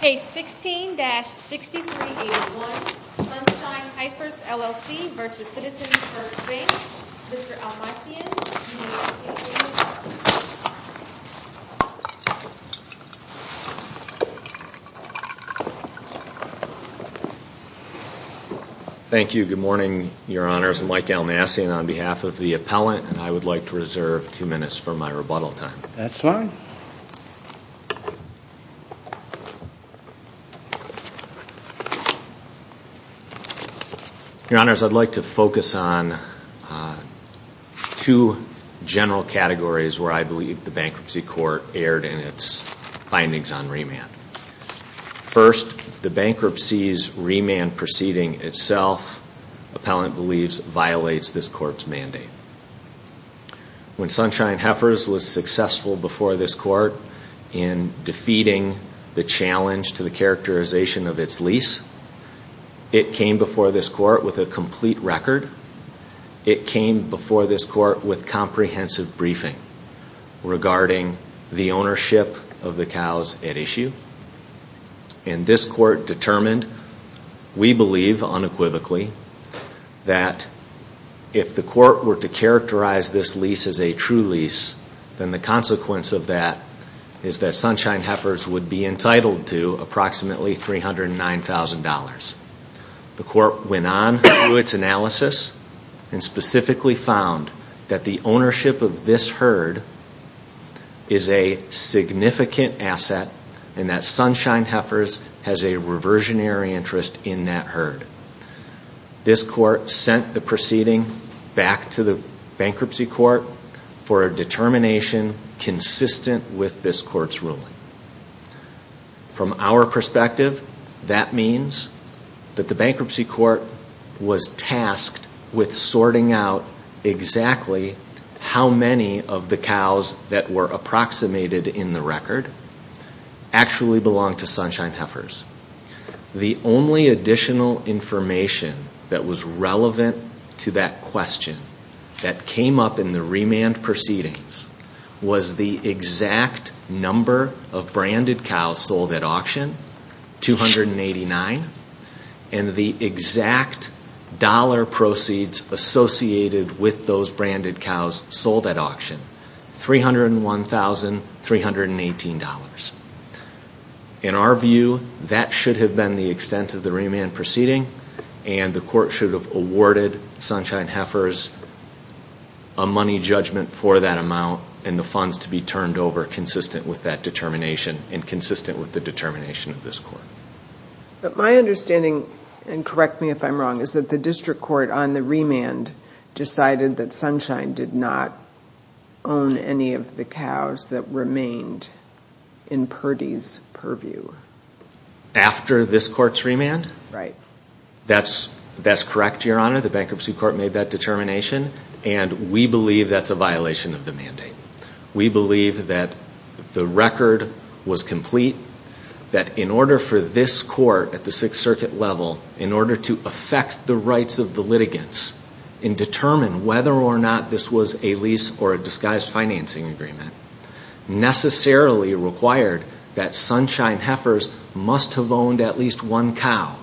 Case 16-6381, Sunshine Heifers LLC vs. Citizens First Bank. Mr. Almassian, you may begin. Thank you. Good morning, your honors. I'm Mike Almassian on behalf of the appellant and I would like to reserve two minutes for my rebuttal time. That's fine. Your honors, I'd like to focus on two general categories where I believe the bankruptcy court erred in its findings on remand. First, the bankruptcy's remand proceeding itself, appellant believes, violates this court's mandate. When Sunshine Heifers was successful before this court in defeating the challenge to the characterization of its lease, it came before this court with a complete record. It came before this court with comprehensive briefing regarding the ownership of the cows at issue. And this court determined, we believe unequivocally, that if the court were to characterize this lease as a true lease, then the consequence of that is that Sunshine Heifers would be entitled to approximately $309,000. The court went on through its analysis and specifically found that the ownership of this herd is a significant asset and that Sunshine Heifers has a reversionary interest in that herd. This court sent the proceeding back to the bankruptcy court for a determination consistent with this court's ruling. From our perspective, that means that the bankruptcy court was tasked with sorting out exactly how many of the cows that were approximated in the record actually belonged to Sunshine Heifers. The only additional information that was relevant to that question that came up in the remand proceedings was the exact number of branded cows sold at auction, 289, and the exact dollar proceeds associated with those branded cows sold at auction, $301,318. In our view, that should have been the extent of the remand proceeding and the court should have awarded Sunshine Heifers a money judgment for that amount and the funds to be turned over consistent with that determination and consistent with the determination of this court. My understanding, and correct me if I'm wrong, is that the district court on the remand decided that Sunshine did not own any of the cows that remained in Purdy's purview. After this court's remand? Right. That's correct, Your Honor. The bankruptcy court made that determination and we believe that's a violation of the mandate. We believe that the record was complete, that in order for this court at the Sixth Circuit level, in order to affect the rights of the litigants and determine whether or not this was a lease or a disguised financing agreement, necessarily required that Sunshine Heifers must have owned at least one cow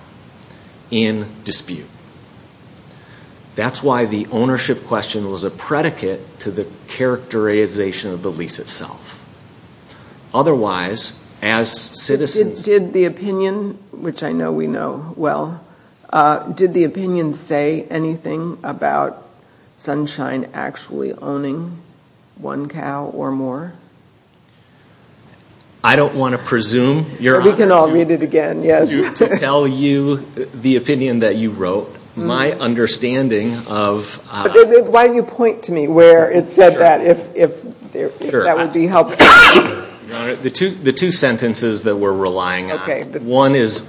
in dispute. That's why the ownership question was a predicate to the characterization of the lease itself. Otherwise, as citizens... Did the opinion, which I know we know well, did the opinion say anything about Sunshine actually owning one cow or more? I don't want to presume, Your Honor, to tell you the opinion that you wrote. My understanding of... Why don't you point to me where it said that, if that would be helpful. The two sentences that we're relying on. One is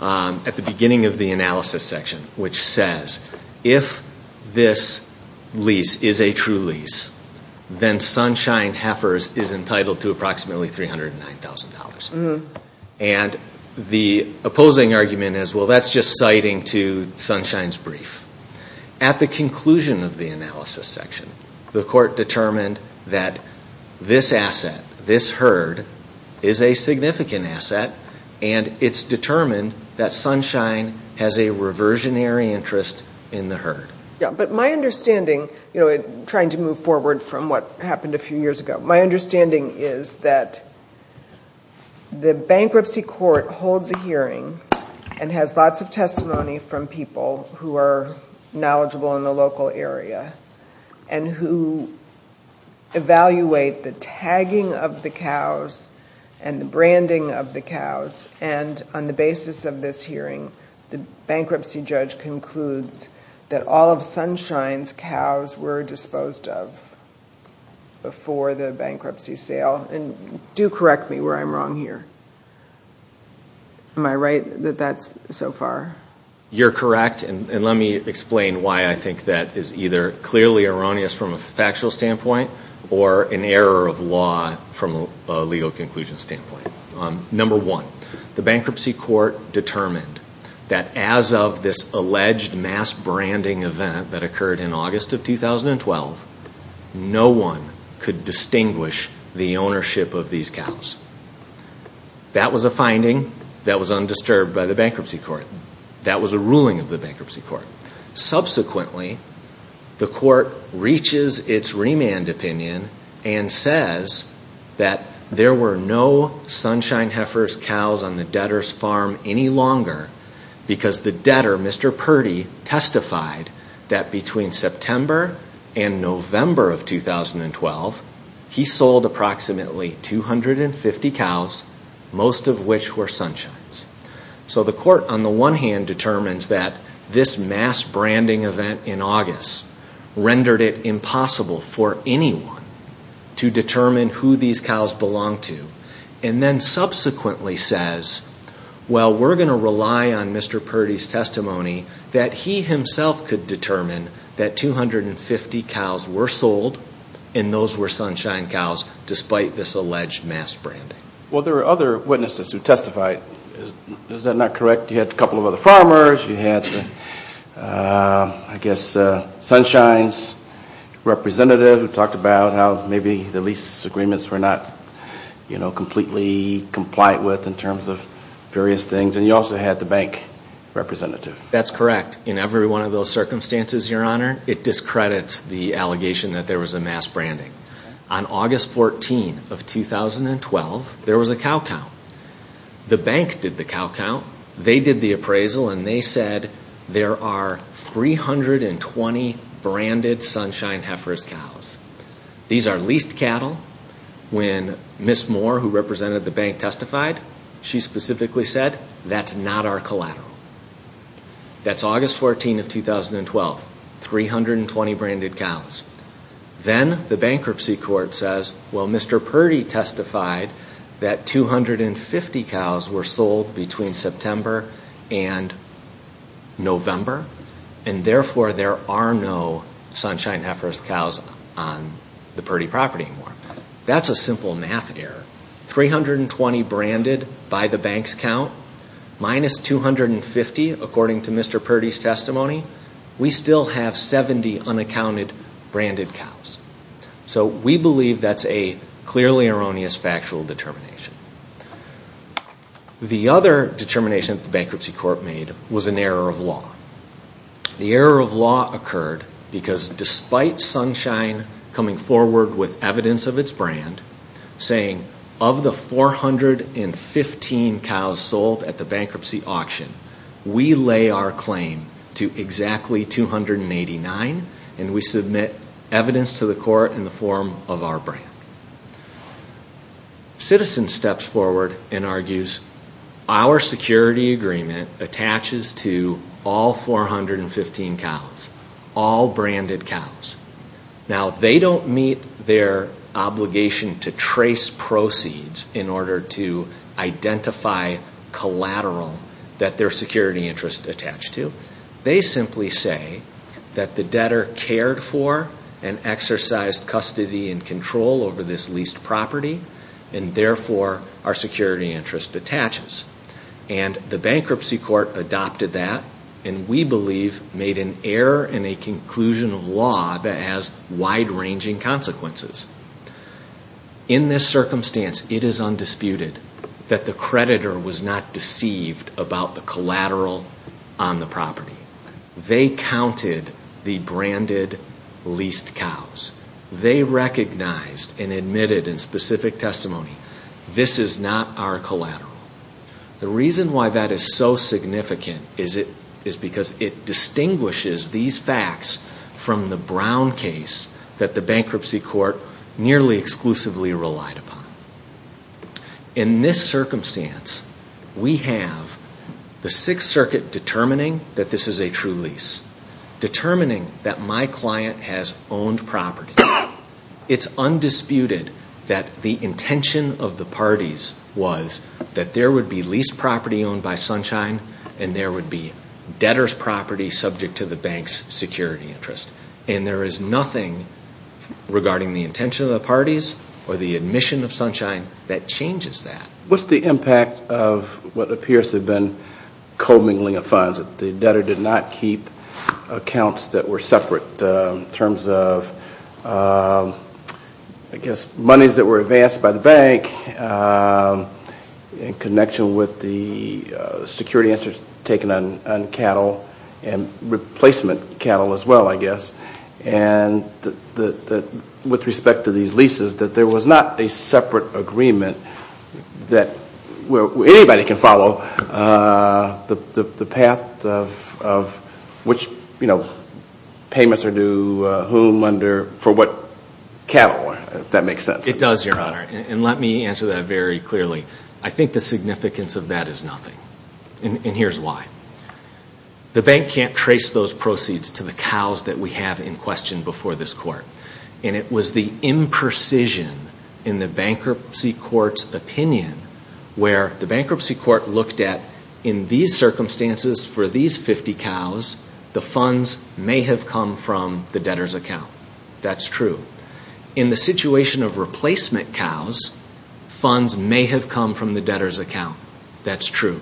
at the beginning of the analysis section, which says, if this lease is a true lease, then Sunshine Heifers is entitled to approximately $309,000. The opposing argument is, well, that's just citing to Sunshine's brief. At the conclusion of the analysis section, the court determined that this asset, this herd, is a significant asset. And it's determined that Sunshine has a reversionary interest in the herd. But my understanding, trying to move forward from what happened a few years ago, my understanding is that the bankruptcy court holds a hearing and has lots of testimony from people who are knowledgeable in the local area and who evaluate the tagging of the cows and the branding of the cows. And on the basis of this hearing, the bankruptcy judge concludes that all of Sunshine's cows were disposed of before the bankruptcy sale. And do correct me where I'm wrong here. Am I right that that's so far? You're correct. And let me explain why I think that is either clearly erroneous from a factual standpoint or an error of law from a legal conclusion standpoint. Number one, the bankruptcy court determined that as of this alleged mass branding event that occurred in August of 2012, no one could distinguish the ownership of these cows. That was a finding that was undisturbed by the bankruptcy court. That was a ruling of the bankruptcy court. Subsequently, the court reaches its remand opinion and says that there were no Sunshine Heifer's cows on the debtor's farm any longer because the debtor, Mr. Purdy, testified that between September and November of 2012, he sold approximately 250 cows, most of which were Sunshine's. So the court, on the one hand, determines that this mass branding event in August rendered it impossible for anyone to determine who these cows belonged to and then subsequently says, well, we're going to rely on Mr. Purdy's testimony that he himself could determine that 250 cows were sold and those were Sunshine's. Well, there were other witnesses who testified. Is that not correct? You had a couple of other farmers. You had, I guess, Sunshine's representative who talked about how maybe the lease agreements were not completely complied with in terms of various things. And you also had the bank representative. That's correct. In every one of those circumstances, Your Honor, it discredits the allegation that there was a mass branding. On August 14 of 2012, there was a cow count. The bank did the cow count. They did the appraisal and they said there are 320 branded Sunshine Heifer's cows. These are leased cattle. When Ms. Moore, who represented the bank, testified, she specifically said, that's not our collateral. That's August 14 of 2012. 320 branded cows. Then the bankruptcy court says, well, Mr. Purdy testified that 250 cows were sold between September and November, and therefore there are no Sunshine Heifer's cows on the Purdy property anymore. That's a simple math error. 320 branded by the bank's count minus 250 according to the bank's account. According to Mr. Purdy's testimony, we still have 70 unaccounted branded cows. So we believe that's a clearly erroneous factual determination. The other determination that the bankruptcy court made was an error of law. The error of law occurred because despite Sunshine coming forward with evidence of its brand saying, of the 415 cows sold at the bankruptcy auction, we lay our claim to exactly 289 and we submit evidence to the court in the form of our brand. Citizens steps forward and argues, our security agreement attaches to all 415 cows. All branded cows. Now, they don't meet their obligation to trace proceeds in order to identify collateral that their security interest attached to. They simply say that the debtor cared for and exercised custody and control over this leased property, and therefore our security interest attaches. And the bankruptcy court adopted that and we believe made an error in a conclusion of law that has wide ranging consequences. In this circumstance, it is undisputed that the creditor was not deceived about the collateral on the property. They counted the branded leased cows. They recognized and admitted in specific testimony, this is not our collateral. The reason why that is so significant is because it distinguishes these facts from the brown case that the bankruptcy court nearly exclusively relied upon. In this circumstance, we have the 6th Circuit determining that this is a true lease. Determining that my client has owned property. It is undisputed that the intention of the parties was that there would be leased property owned by Sunshine and there would be debtor's property subject to the bank's security interest. And there is nothing regarding the intention of the parties or the admission of Sunshine that changes that. What's the impact of what appears to have been co-mingling of funds? The debtor did not keep accounts that were separate in terms of, I guess, monies that were advanced by the bank in connection with the security interest taken on cattle and replacement cattle as well, I guess. And with respect to these leases, that there was not a separate agreement that anybody can follow. The path of which payments are due, whom, for what cattle, if that makes sense. It does, Your Honor. And let me answer that very clearly. I think the significance of that is nothing. And here's why. The bank can't trace those proceeds to the cows that we have in question before this court. And I think that in these circumstances, for these 50 cows, the funds may have come from the debtor's account. That's true. In the situation of replacement cows, funds may have come from the debtor's account. That's true.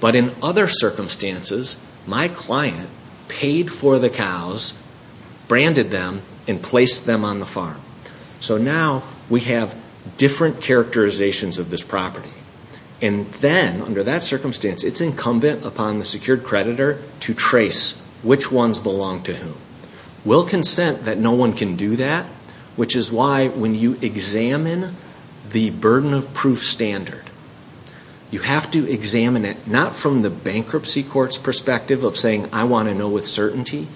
But in other circumstances, my client paid for the cows, branded them, and placed them on the farm. So now we have different characterizations of this property. And then, under that circumstance, it's incumbent upon the secured creditor to trace which ones belong to whom. We'll consent that no one can do that, which is why when you examine the burden of proof standard, you have to examine it not from the bankruptcy court's perspective of saying, I want to know with certainty.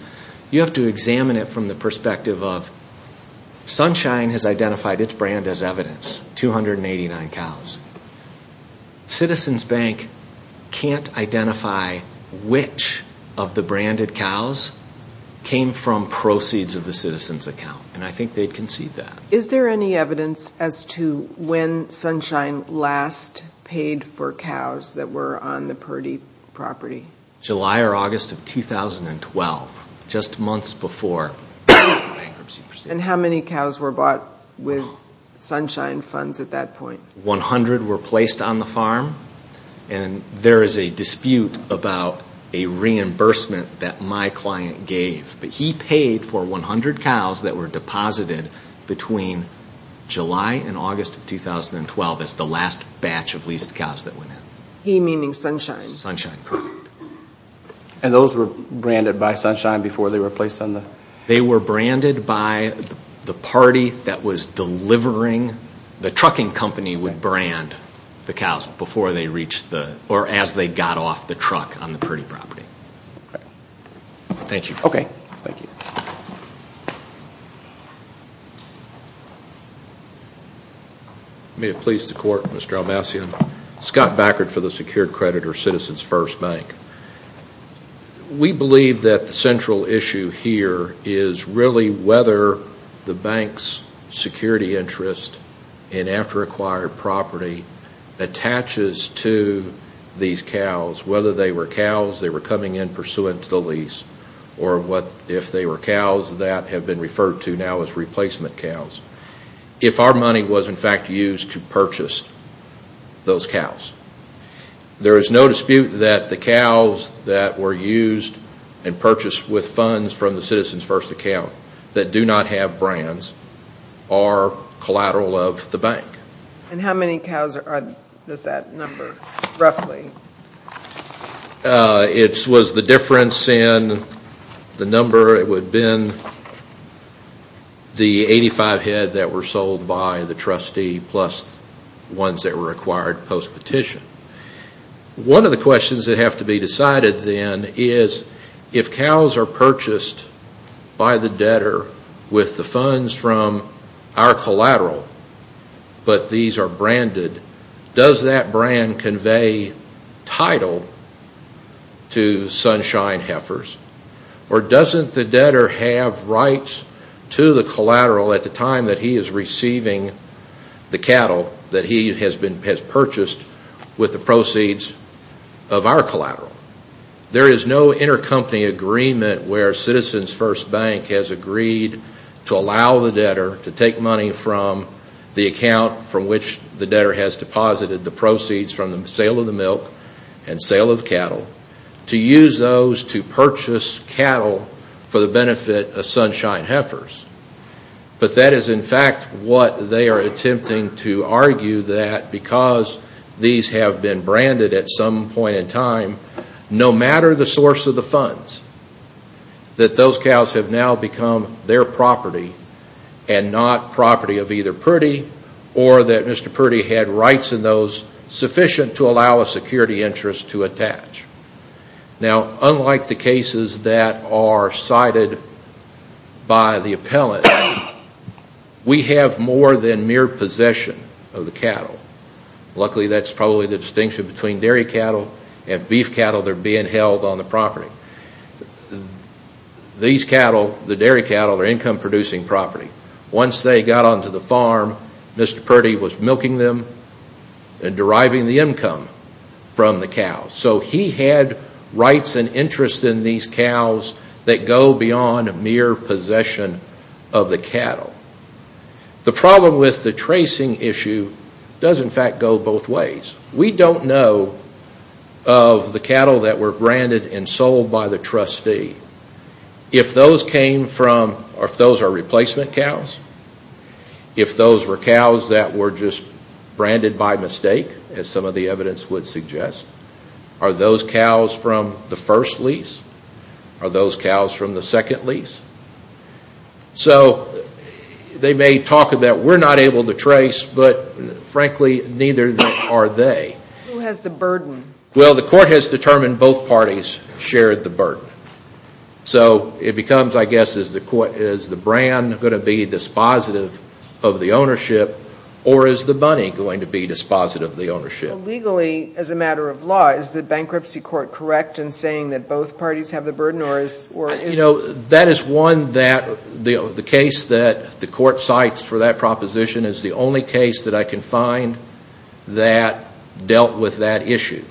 You have to examine it from the perspective of, Sunshine has identified its brand as evidence, 289 cows. Citizens Bank can't identify which of the branded cows came from proceeds of the citizens' account. And I think they'd concede that. Is there any evidence as to when Sunshine last paid for cows that were on the Purdy property? July or August of 2012, just months before the bankruptcy proceedings. And how many cows were bought with Sunshine funds at that point? 100 were placed on the farm, and there is a dispute about a reimbursement that my client gave. But he paid for 100 cows that were deposited between July and August of 2012 as the last batch of leased cows that went in. He meaning Sunshine. And those were branded by Sunshine before they were placed on the... They were branded by the party that was delivering, the trucking company would brand the cows before they reached the, or as they got off the truck on the Purdy property. Thank you. May it please the Court, Mr. Almassian. We believe that the central issue here is really whether the bank's security interest in after-acquired property attaches to these cows. Whether they were cows that were coming in pursuant to the lease, or if they were cows that have been referred to now as replacement cows. If our money was in fact used to purchase those cows. There is no dispute that the cows that were used and purchased with funds from the Citizens First account that do not have brands are collateral of the bank. And how many cows does that number roughly? It was the difference in the number. It would have been the 85 head that were sold by the trustee plus ones that were acquired post-petition. One of the questions that have to be decided then is if cows are purchased by the debtor with the funds from our collateral. Does that brand convey title to Sunshine Heifers? Or doesn't the debtor have rights to the collateral at the time that he is receiving the cattle that he has purchased with the proceeds of our collateral? There is no intercompany agreement where Citizens First Bank has agreed to allow the debtor to take money from the account from Sunshine Heifers. From which the debtor has deposited the proceeds from the sale of the milk and sale of cattle. To use those to purchase cattle for the benefit of Sunshine Heifers. But that is in fact what they are attempting to argue that because these have been branded at some point in time. No matter the source of the funds. That those cows have now become their property and not property of either Purdy. Or that Mr. Purdy had rights in those sufficient to allow a security interest to attach. Now unlike the cases that are cited by the appellant, we have more than mere possession of the cattle. Luckily that is probably the distinction between dairy cattle and beef cattle that are being held on the property. These cattle, the dairy cattle, are income producing property. Once they got onto the farm, Mr. Purdy was milking them and deriving the income from the cows. So he had rights and interests in these cows that go beyond mere possession of the cattle. The problem with the tracing issue does in fact go both ways. We don't know of the cattle that were branded and sold by the trustee. If those are replacement cows. If those were cows that were just branded by mistake as some of the evidence would suggest. Are those cows from the first lease? Are those cows from the second lease? So they may talk about we're not able to trace, but frankly neither are they. Who has the burden? Well the court has determined both parties shared the burden. So it becomes I guess is the brand going to be dispositive of the ownership or is the money going to be dispositive of the ownership? Legally as a matter of law, is the bankruptcy court correct in saying that both parties have the burden? That is one that the case that the court cites for that proposition is the only case that I can find that dealt with that issue.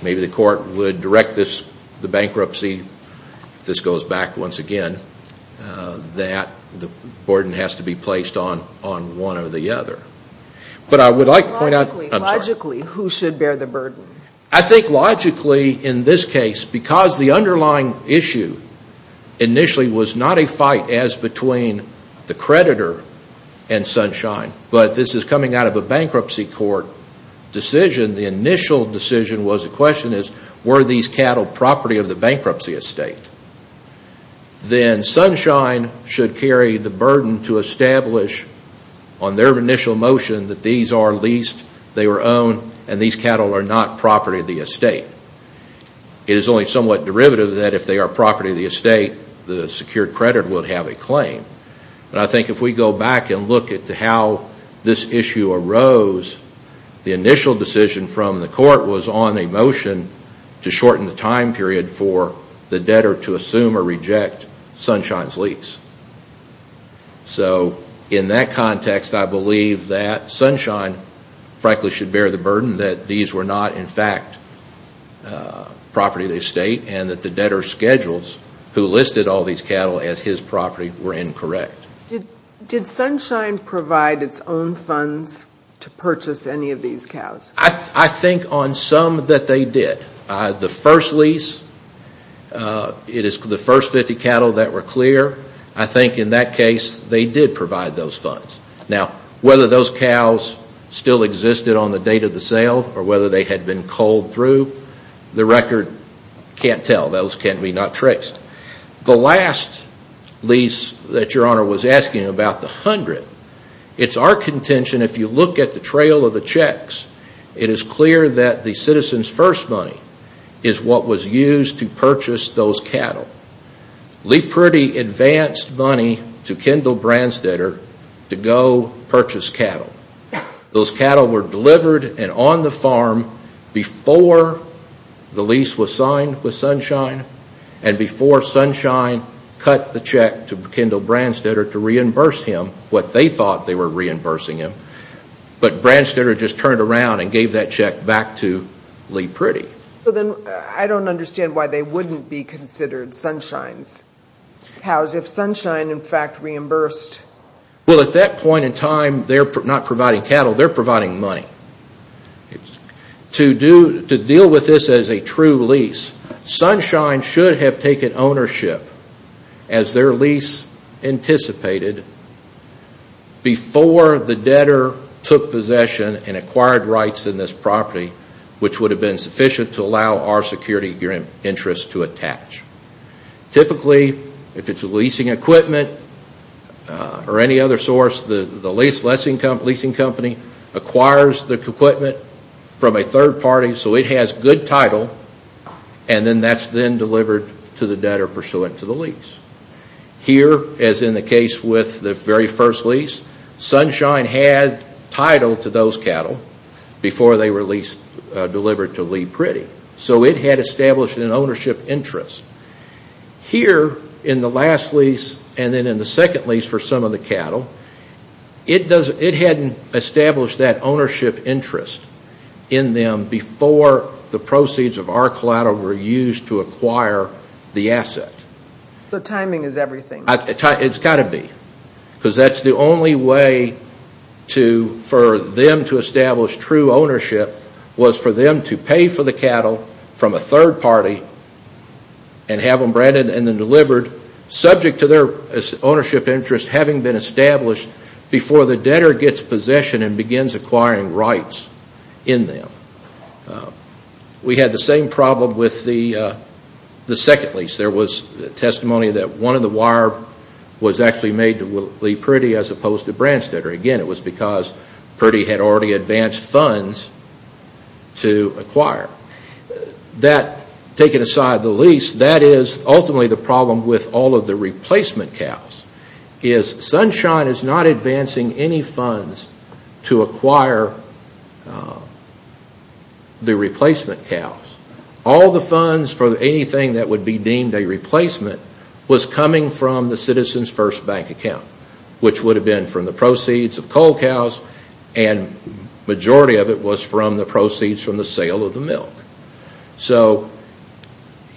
Maybe the court would direct the bankruptcy, if this goes back once again, that the burden has to be placed on one or the other. Logically, who should bear the burden? I think logically in this case because the underlying issue initially was not a fight as between the creditor and Sunshine. But this is coming out of a bankruptcy court decision. The initial decision was the question is were these cattle property of the bankruptcy estate? Then Sunshine should carry the burden to establish on their initial motion that these are leased, they were owned, and these cattle are not property of the estate. It is only somewhat derivative that if they are property of the estate, the secured credit would have a claim. I think if we go back and look at how this issue arose, the initial decision from the court was on a motion to shorten the time period for the debtor to assume or reject Sunshine's lease. In that context, I believe that Sunshine frankly should bear the burden that these were not in fact property of the estate and that the debtor's schedules who listed all these cattle as his property were incorrect. Did Sunshine provide its own funds to purchase any of these cows? I think on some that they did. The first lease, it is the first 50 cattle that were clear. I think in that case they did provide those funds. Now whether those cows still existed on the date of the sale or whether they had been culled through, the record can't tell. Those can be not traced. The last lease that Your Honor was asking about, the hundred, it is our contention if you look at the trail of the checks, it is clear that the citizens' first money is what was used to purchase those cattle. Lee Priddy advanced money to Kendall Branstetter to go purchase cattle. Those cattle were delivered and on the farm before the lease was signed with Sunshine and before Sunshine cut the check to Kendall Branstetter to reimburse him what they thought they were reimbursing him. But Branstetter just turned around and gave that check back to Lee Priddy. I don't understand why they wouldn't be considered Sunshine's cows if Sunshine, in fact, reimbursed. Well, at that point in time, they're not providing cattle, they're providing money. To deal with this as a true lease, Sunshine should have taken ownership as their lease anticipated before the debtor took possession and acquired rights in this property, which would have been sufficient. Typically, if it's a leasing equipment or any other source, the leasing company acquires the equipment from a third party so it has good title and then that's then delivered to the debtor pursuant to the lease. Here, as in the case with the very first lease, Sunshine had title to those cattle before they were delivered to Lee Priddy. So it had established an ownership interest. And have them branded and then delivered subject to their ownership interest having been established before the debtor gets possession and begins acquiring rights in them. We had the same problem with the second lease. There was testimony that one of the wire was actually made to Lee Priddy as opposed to Branstetter. Again, it was because Priddy had already advanced funds to acquire. That, taken aside the lease, that is ultimately the problem with all of the replacement cows. Sunshine is not advancing any funds to acquire the replacement cows. All the funds for anything that would be deemed a replacement was coming from the Citizens First Bank account, which would have been from the proceeds, the proceeds of coal cows and the majority of it was from the proceeds from the sale of the milk.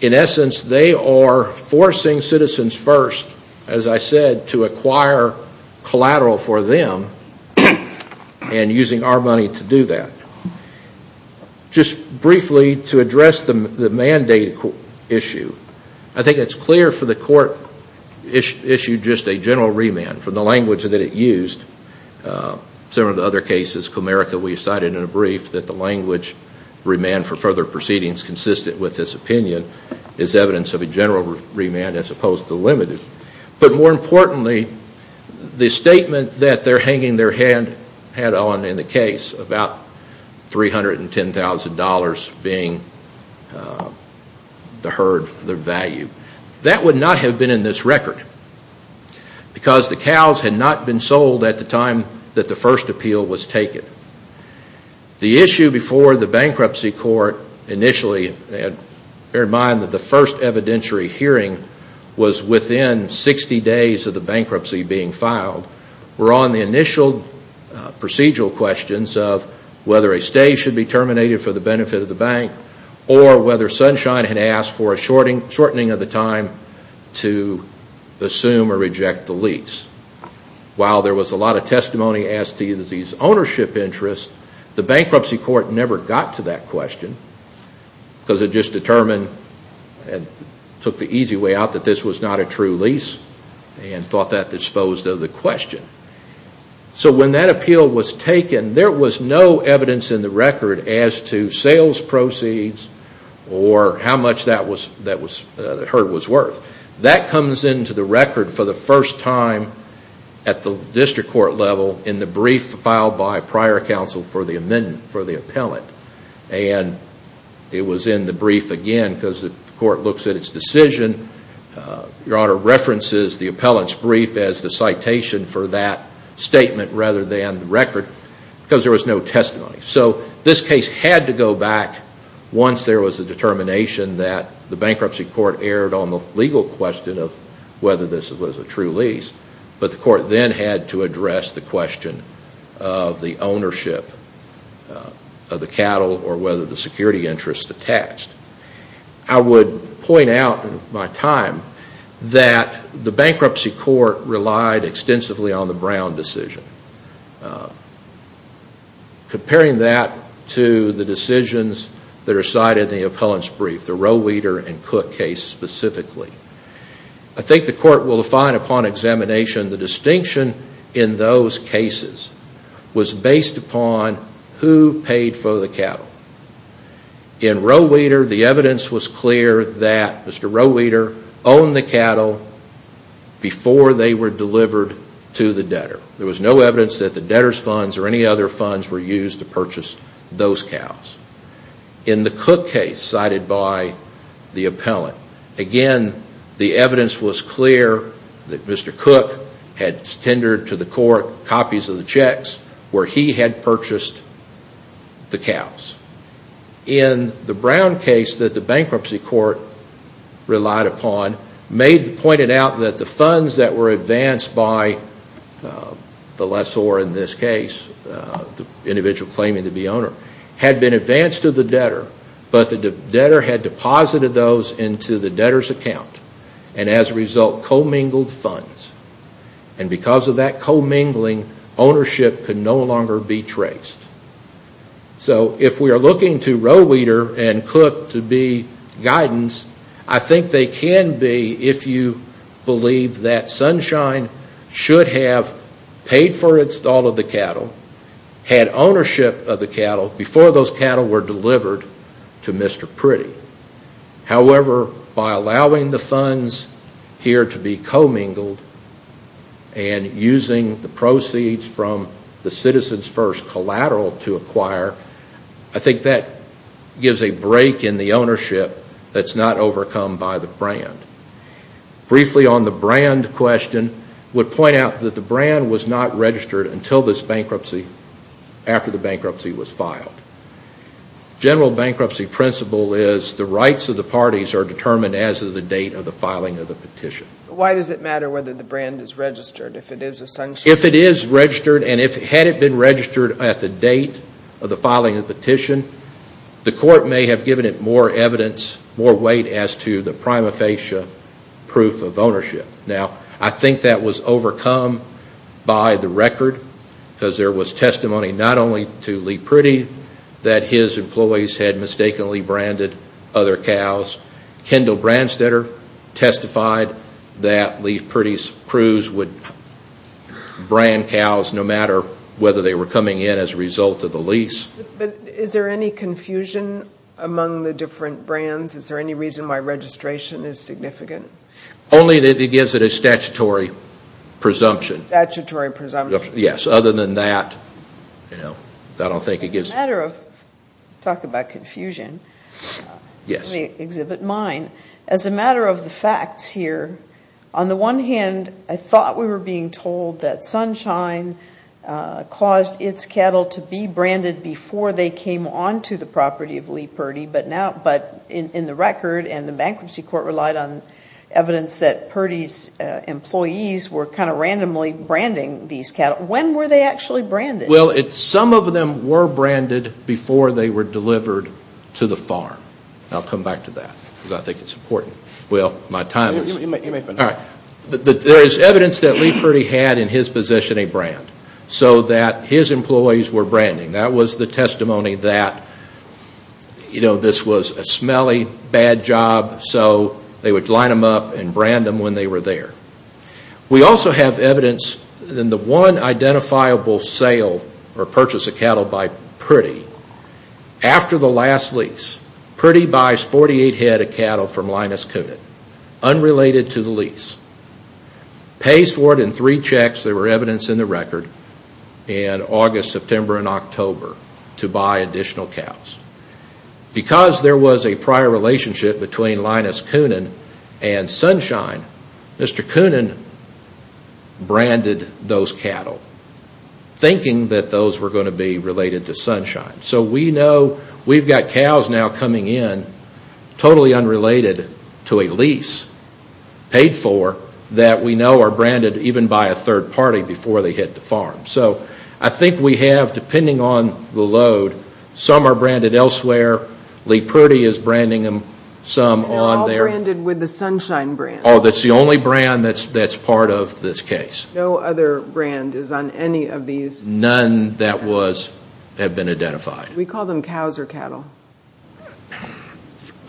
In essence, they are forcing Citizens First, as I said, to acquire collateral for them and using our money to do that. Just briefly to address the mandate issue, I think it's clear for the court issue just a general remand from the language that it used. Some of the other cases, Comerica, we cited in a brief that the language remand for further proceedings consistent with this opinion is evidence of a general remand as opposed to limited. But more importantly, the statement that they are hanging their head on in the case about $310,000 being the herd, the value, that would not have been in this record. Because the cows had not been sold at the time that the first appeal was taken. The issue before the bankruptcy court initially, bear in mind that the first evidentiary hearing was within 60 days of the bankruptcy being filed. We're on the initial procedural questions of whether a stay should be terminated for the benefit of the bank or whether Sunshine had asked for a shortening of the time to assume or reject the lease. While there was a lot of testimony as to these ownership interests, the bankruptcy court never got to that question because it just determined and took the easy way out that this was not a true lease and thought that disposed of the question. So when that appeal was taken, there was no evidence in the record as to sales proceeds or how much that herd was worth. That comes into the record for the first time at the district court level in the brief filed by prior counsel for the appellant. And it was in the brief again because the court looks at its decision. Your Honor references the appellant's brief as the citation for that statement rather than the record because there was no testimony. So this case had to go back once there was a determination that the bankruptcy court erred on the lease. There was a legal question of whether this was a true lease, but the court then had to address the question of the ownership of the cattle or whether the security interest attached. I would point out in my time that the bankruptcy court relied extensively on the Brown decision. Comparing that to the decisions that are cited in the appellant's brief, the Roweeder and Cook case specifically, I think the court will find upon examination the distinction in those cases was based upon who paid for the cattle. In Roweeder, the evidence was clear that Mr. Roweeder owned the cattle before they were delivered to the debtor. There was no evidence that the debtor's funds or any other funds were used to purchase those cows. In the Cook case cited by the appellant, again, the evidence was clear that Mr. Cook had tendered to the court copies of the checks where he had purchased the cows. In the Brown case that the bankruptcy court relied upon, pointed out that the funds that were advanced by the lessor in this case, the individual claiming to be owner, had been advanced to the debtor, but the debtor had deposited those into the debtor's account. As a result, co-mingled funds. Because of that co-mingling, ownership could no longer be traced. If we are looking to Roweeder and Cook to be guidance, I think they can be if you believe that Sunshine should have paid for all of the cattle, had ownership of the cattle before those cattle were delivered to Mr. Priddy. However, by allowing the funds here to be co-mingled and using the proceeds from the Citizens First collateral to acquire, I think that gives a break in the ownership that's not overcome by the brand. Briefly on the brand question, would point out that the brand was not registered until this bankruptcy, after the bankruptcy was filed. General bankruptcy principle is the rights of the parties are determined as of the date of the filing of the petition. Why does it matter whether the brand is registered if it is a Sunshine? If it is registered, and had it been registered at the date of the filing of the petition, the court may have given it more evidence, more weight as to the prima facie proof of ownership. I think that was overcome by the record, because there was testimony not only to Lee Priddy that his employees had mistakenly branded other cows. Kendall Brandstetter testified that Lee Priddy's crews would brand cows no matter whether they were coming in as a result of the lease. But is there any confusion among the different brands? Is there any reason why registration is significant? Only that it gives it a statutory presumption. Talking about confusion, let me exhibit mine. As a matter of the facts here, on the one hand, I thought we were being told that Sunshine caused its cattle to be branded before the lease. Before they came onto the property of Lee Priddy. But in the record, and the bankruptcy court relied on evidence that Priddy's employees were kind of randomly branding these cattle. When were they actually branded? Well, some of them were branded before they were delivered to the farm. I'll come back to that because I think it's important. There is evidence that Lee Priddy had in his position a brand. So that his employees were branding. That was the testimony that this was a smelly, bad job, so they would line them up and brand them when they were there. We also have evidence in the one identifiable sale or purchase of cattle by Priddy, after the last lease, Priddy buys 48 head of cattle from Linus Coonan, unrelated to the lease. Pays for it in three checks, there were evidence in the record, in August, September, and October, to buy additional cows. Because there was a prior relationship between Linus Coonan and Sunshine, Mr. Coonan branded those cattle, thinking that those were going to be related to Sunshine. So we know we've got cows now coming in, totally unrelated to a lease, paid for, that we know are branded even by a third party before they hit the farm. So I think we have, depending on the load, some are branded elsewhere, Lee Priddy is branding them some on their... They're all branded with the Sunshine brand. That's the only brand that's part of this case. No other brand is on any of these? None that have been identified. We call them cows or cattle?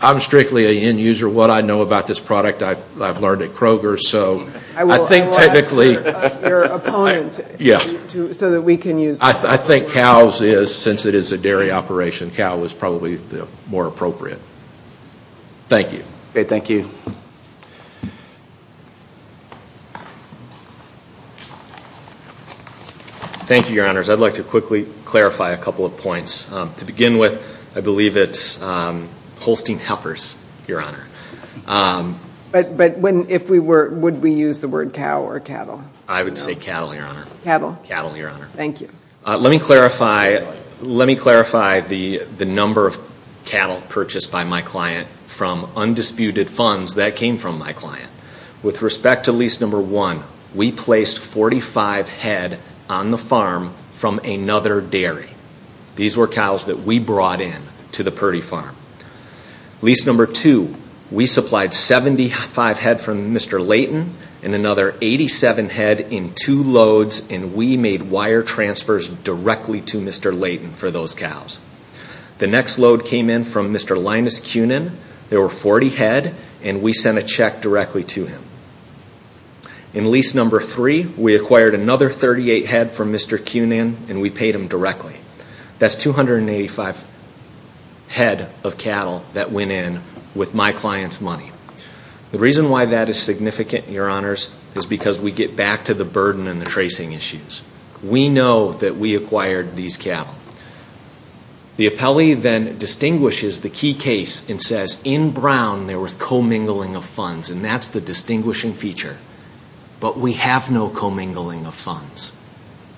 I'm strictly an end user. What I know about this product, I've learned at Kroger. I will ask your opponent so that we can use that. I think cows is, since it is a dairy operation, cow is probably more appropriate. Thank you. Thank you, Your Honors. I'd like to quickly clarify a couple of points. To begin with, I believe it's Holstein Heifers, Your Honor. But would we use the word cow or cattle? Cattle. Let me clarify the number of cattle purchased by my client from undisputed funds that came from my client. With respect to lease number one, we placed 45 head on the farm from another dairy. These were cows that we brought in to the Purdy farm. Lease number two, we supplied 75 head from Mr. Layton and another 87 head in two loads, and we made wire transfers directly to Mr. Layton for those cows. The next load came in from Mr. Linus Cunin. There were 40 head, and we sent a check directly to him. In lease number three, we acquired another 38 head from Mr. Cunin, and we paid him directly. That's 285 head of cattle that went in with my client's money. The reason why that is significant, Your Honors, is because we get back to the burden and the tracing issues. We know that we acquired these cattle. The appellee then distinguishes the key case and says, in Brown, there was commingling of funds, and that's the distinguishing feature. But we have no commingling of funds.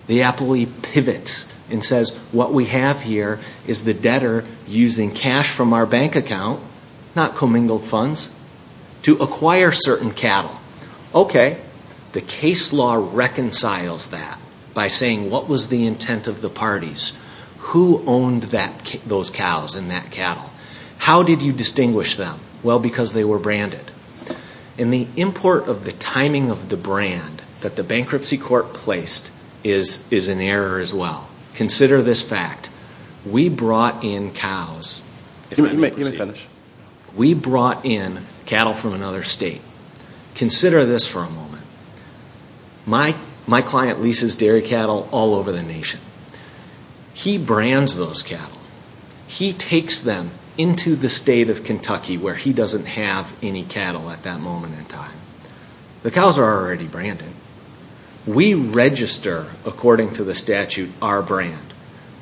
The appellee pivots and says, what we have here is the debtor using cash from our bank account, not commingled funds, to acquire certain cattle. Okay, the case law reconciles that by saying, what was the intent of the parties? Who owned those cows and that cattle? How did you distinguish them? Well, because they were branded. And the import of the timing of the brand that the bankruptcy court placed is an error as well. Consider this fact. We brought in cows. He brands those cattle. He takes them into the state of Kentucky where he doesn't have any cattle at that moment in time. The cows are already branded. We register, according to the statute, our brand.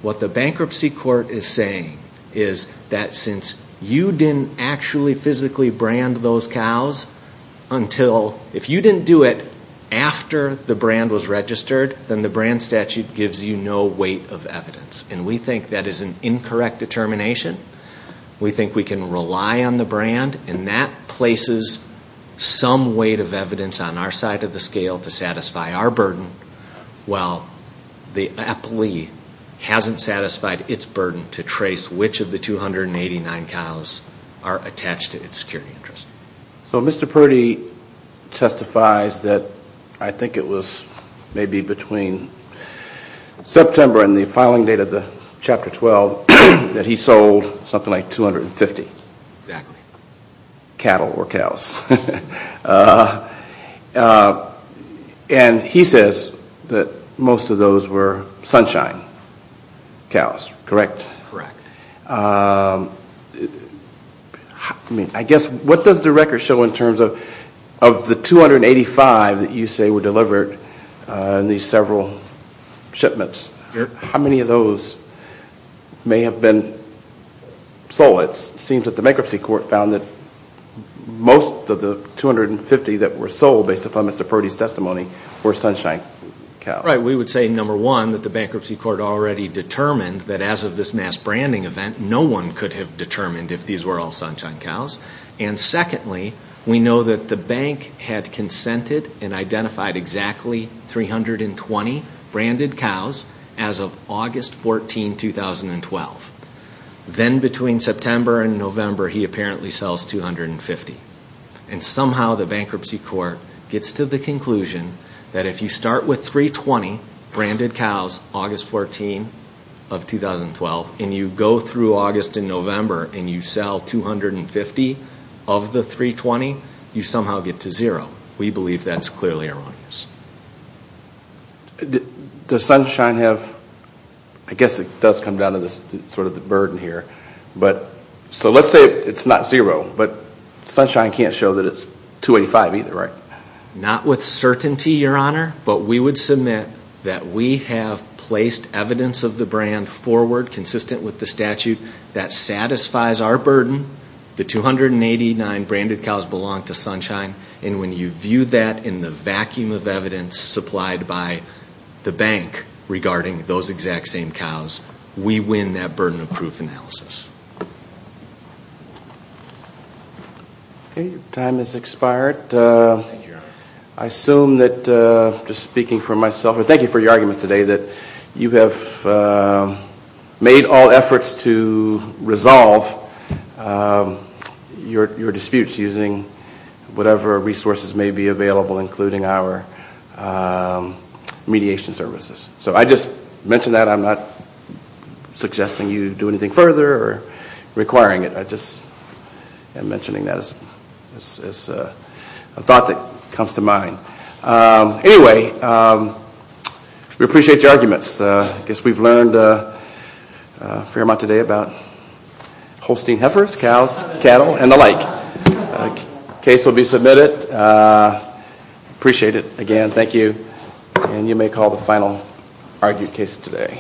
What the bankruptcy court is saying is that since you didn't actually physically brand those cows until, if you didn't do it after the brand was registered, then the brand statute gives you no weight of evidence. And we think that is an incorrect determination. We think we can rely on the brand, and that places some weight of evidence on our side of the scale to satisfy our burden, while the appellee hasn't satisfied its burden to trace which of the 289 cows are attached to its security interest. So Mr. Purdy testifies that I think it was maybe between September and the filing date of the case, the filing date of the Chapter 12, that he sold something like 250 cattle or cows. And he says that most of those were Sunshine cows, correct? Correct. I guess what does the record show in terms of the 285 that you say were delivered in these several shipments? How many of those may have been sold? It seems that the bankruptcy court found that most of the 250 that were sold, based upon Mr. Purdy's testimony, were Sunshine cows. Right. We would say, number one, that the bankruptcy court already determined that as of this mass branding event, no one could have determined if these were all Sunshine cows. And secondly, we know that the bank had consented and identified exactly 320 branded cows as of August 14, 2012. Then between September and November, he apparently sells 250. And somehow the bankruptcy court gets to the conclusion that if you start with 320 branded cows August 14 of 2012, and you go through August and November and you sell 250 of the 320, you somehow get to zero. We believe that's clearly erroneous. Does Sunshine have, I guess it does come down to sort of the burden here. So let's say it's not zero, but Sunshine can't show that it's 285 either, right? Not with certainty, Your Honor, but we would submit that we have placed evidence of the brand forward consistent with the statute that satisfies our burden, the 289 branded cows belong to Sunshine, and when you view that in the vacuum of evidence supplied by the bank regarding those exact same cows, we win that burden of proof analysis. Okay, time has expired. I assume that, just speaking for myself, thank you for your arguments today that you have made all efforts to resolve your disputes using whatever resources may be available, including our mediation services. So I just mention that, I'm not suggesting you do anything further or requiring it. I just am mentioning that as a thought that comes to mind. Anyway, we appreciate your arguments. I guess we've learned a fair amount today about Holstein heifers, cows, cattle, and the like. Case will be submitted. Appreciate it again. Thank you. And you may call the final argued case today.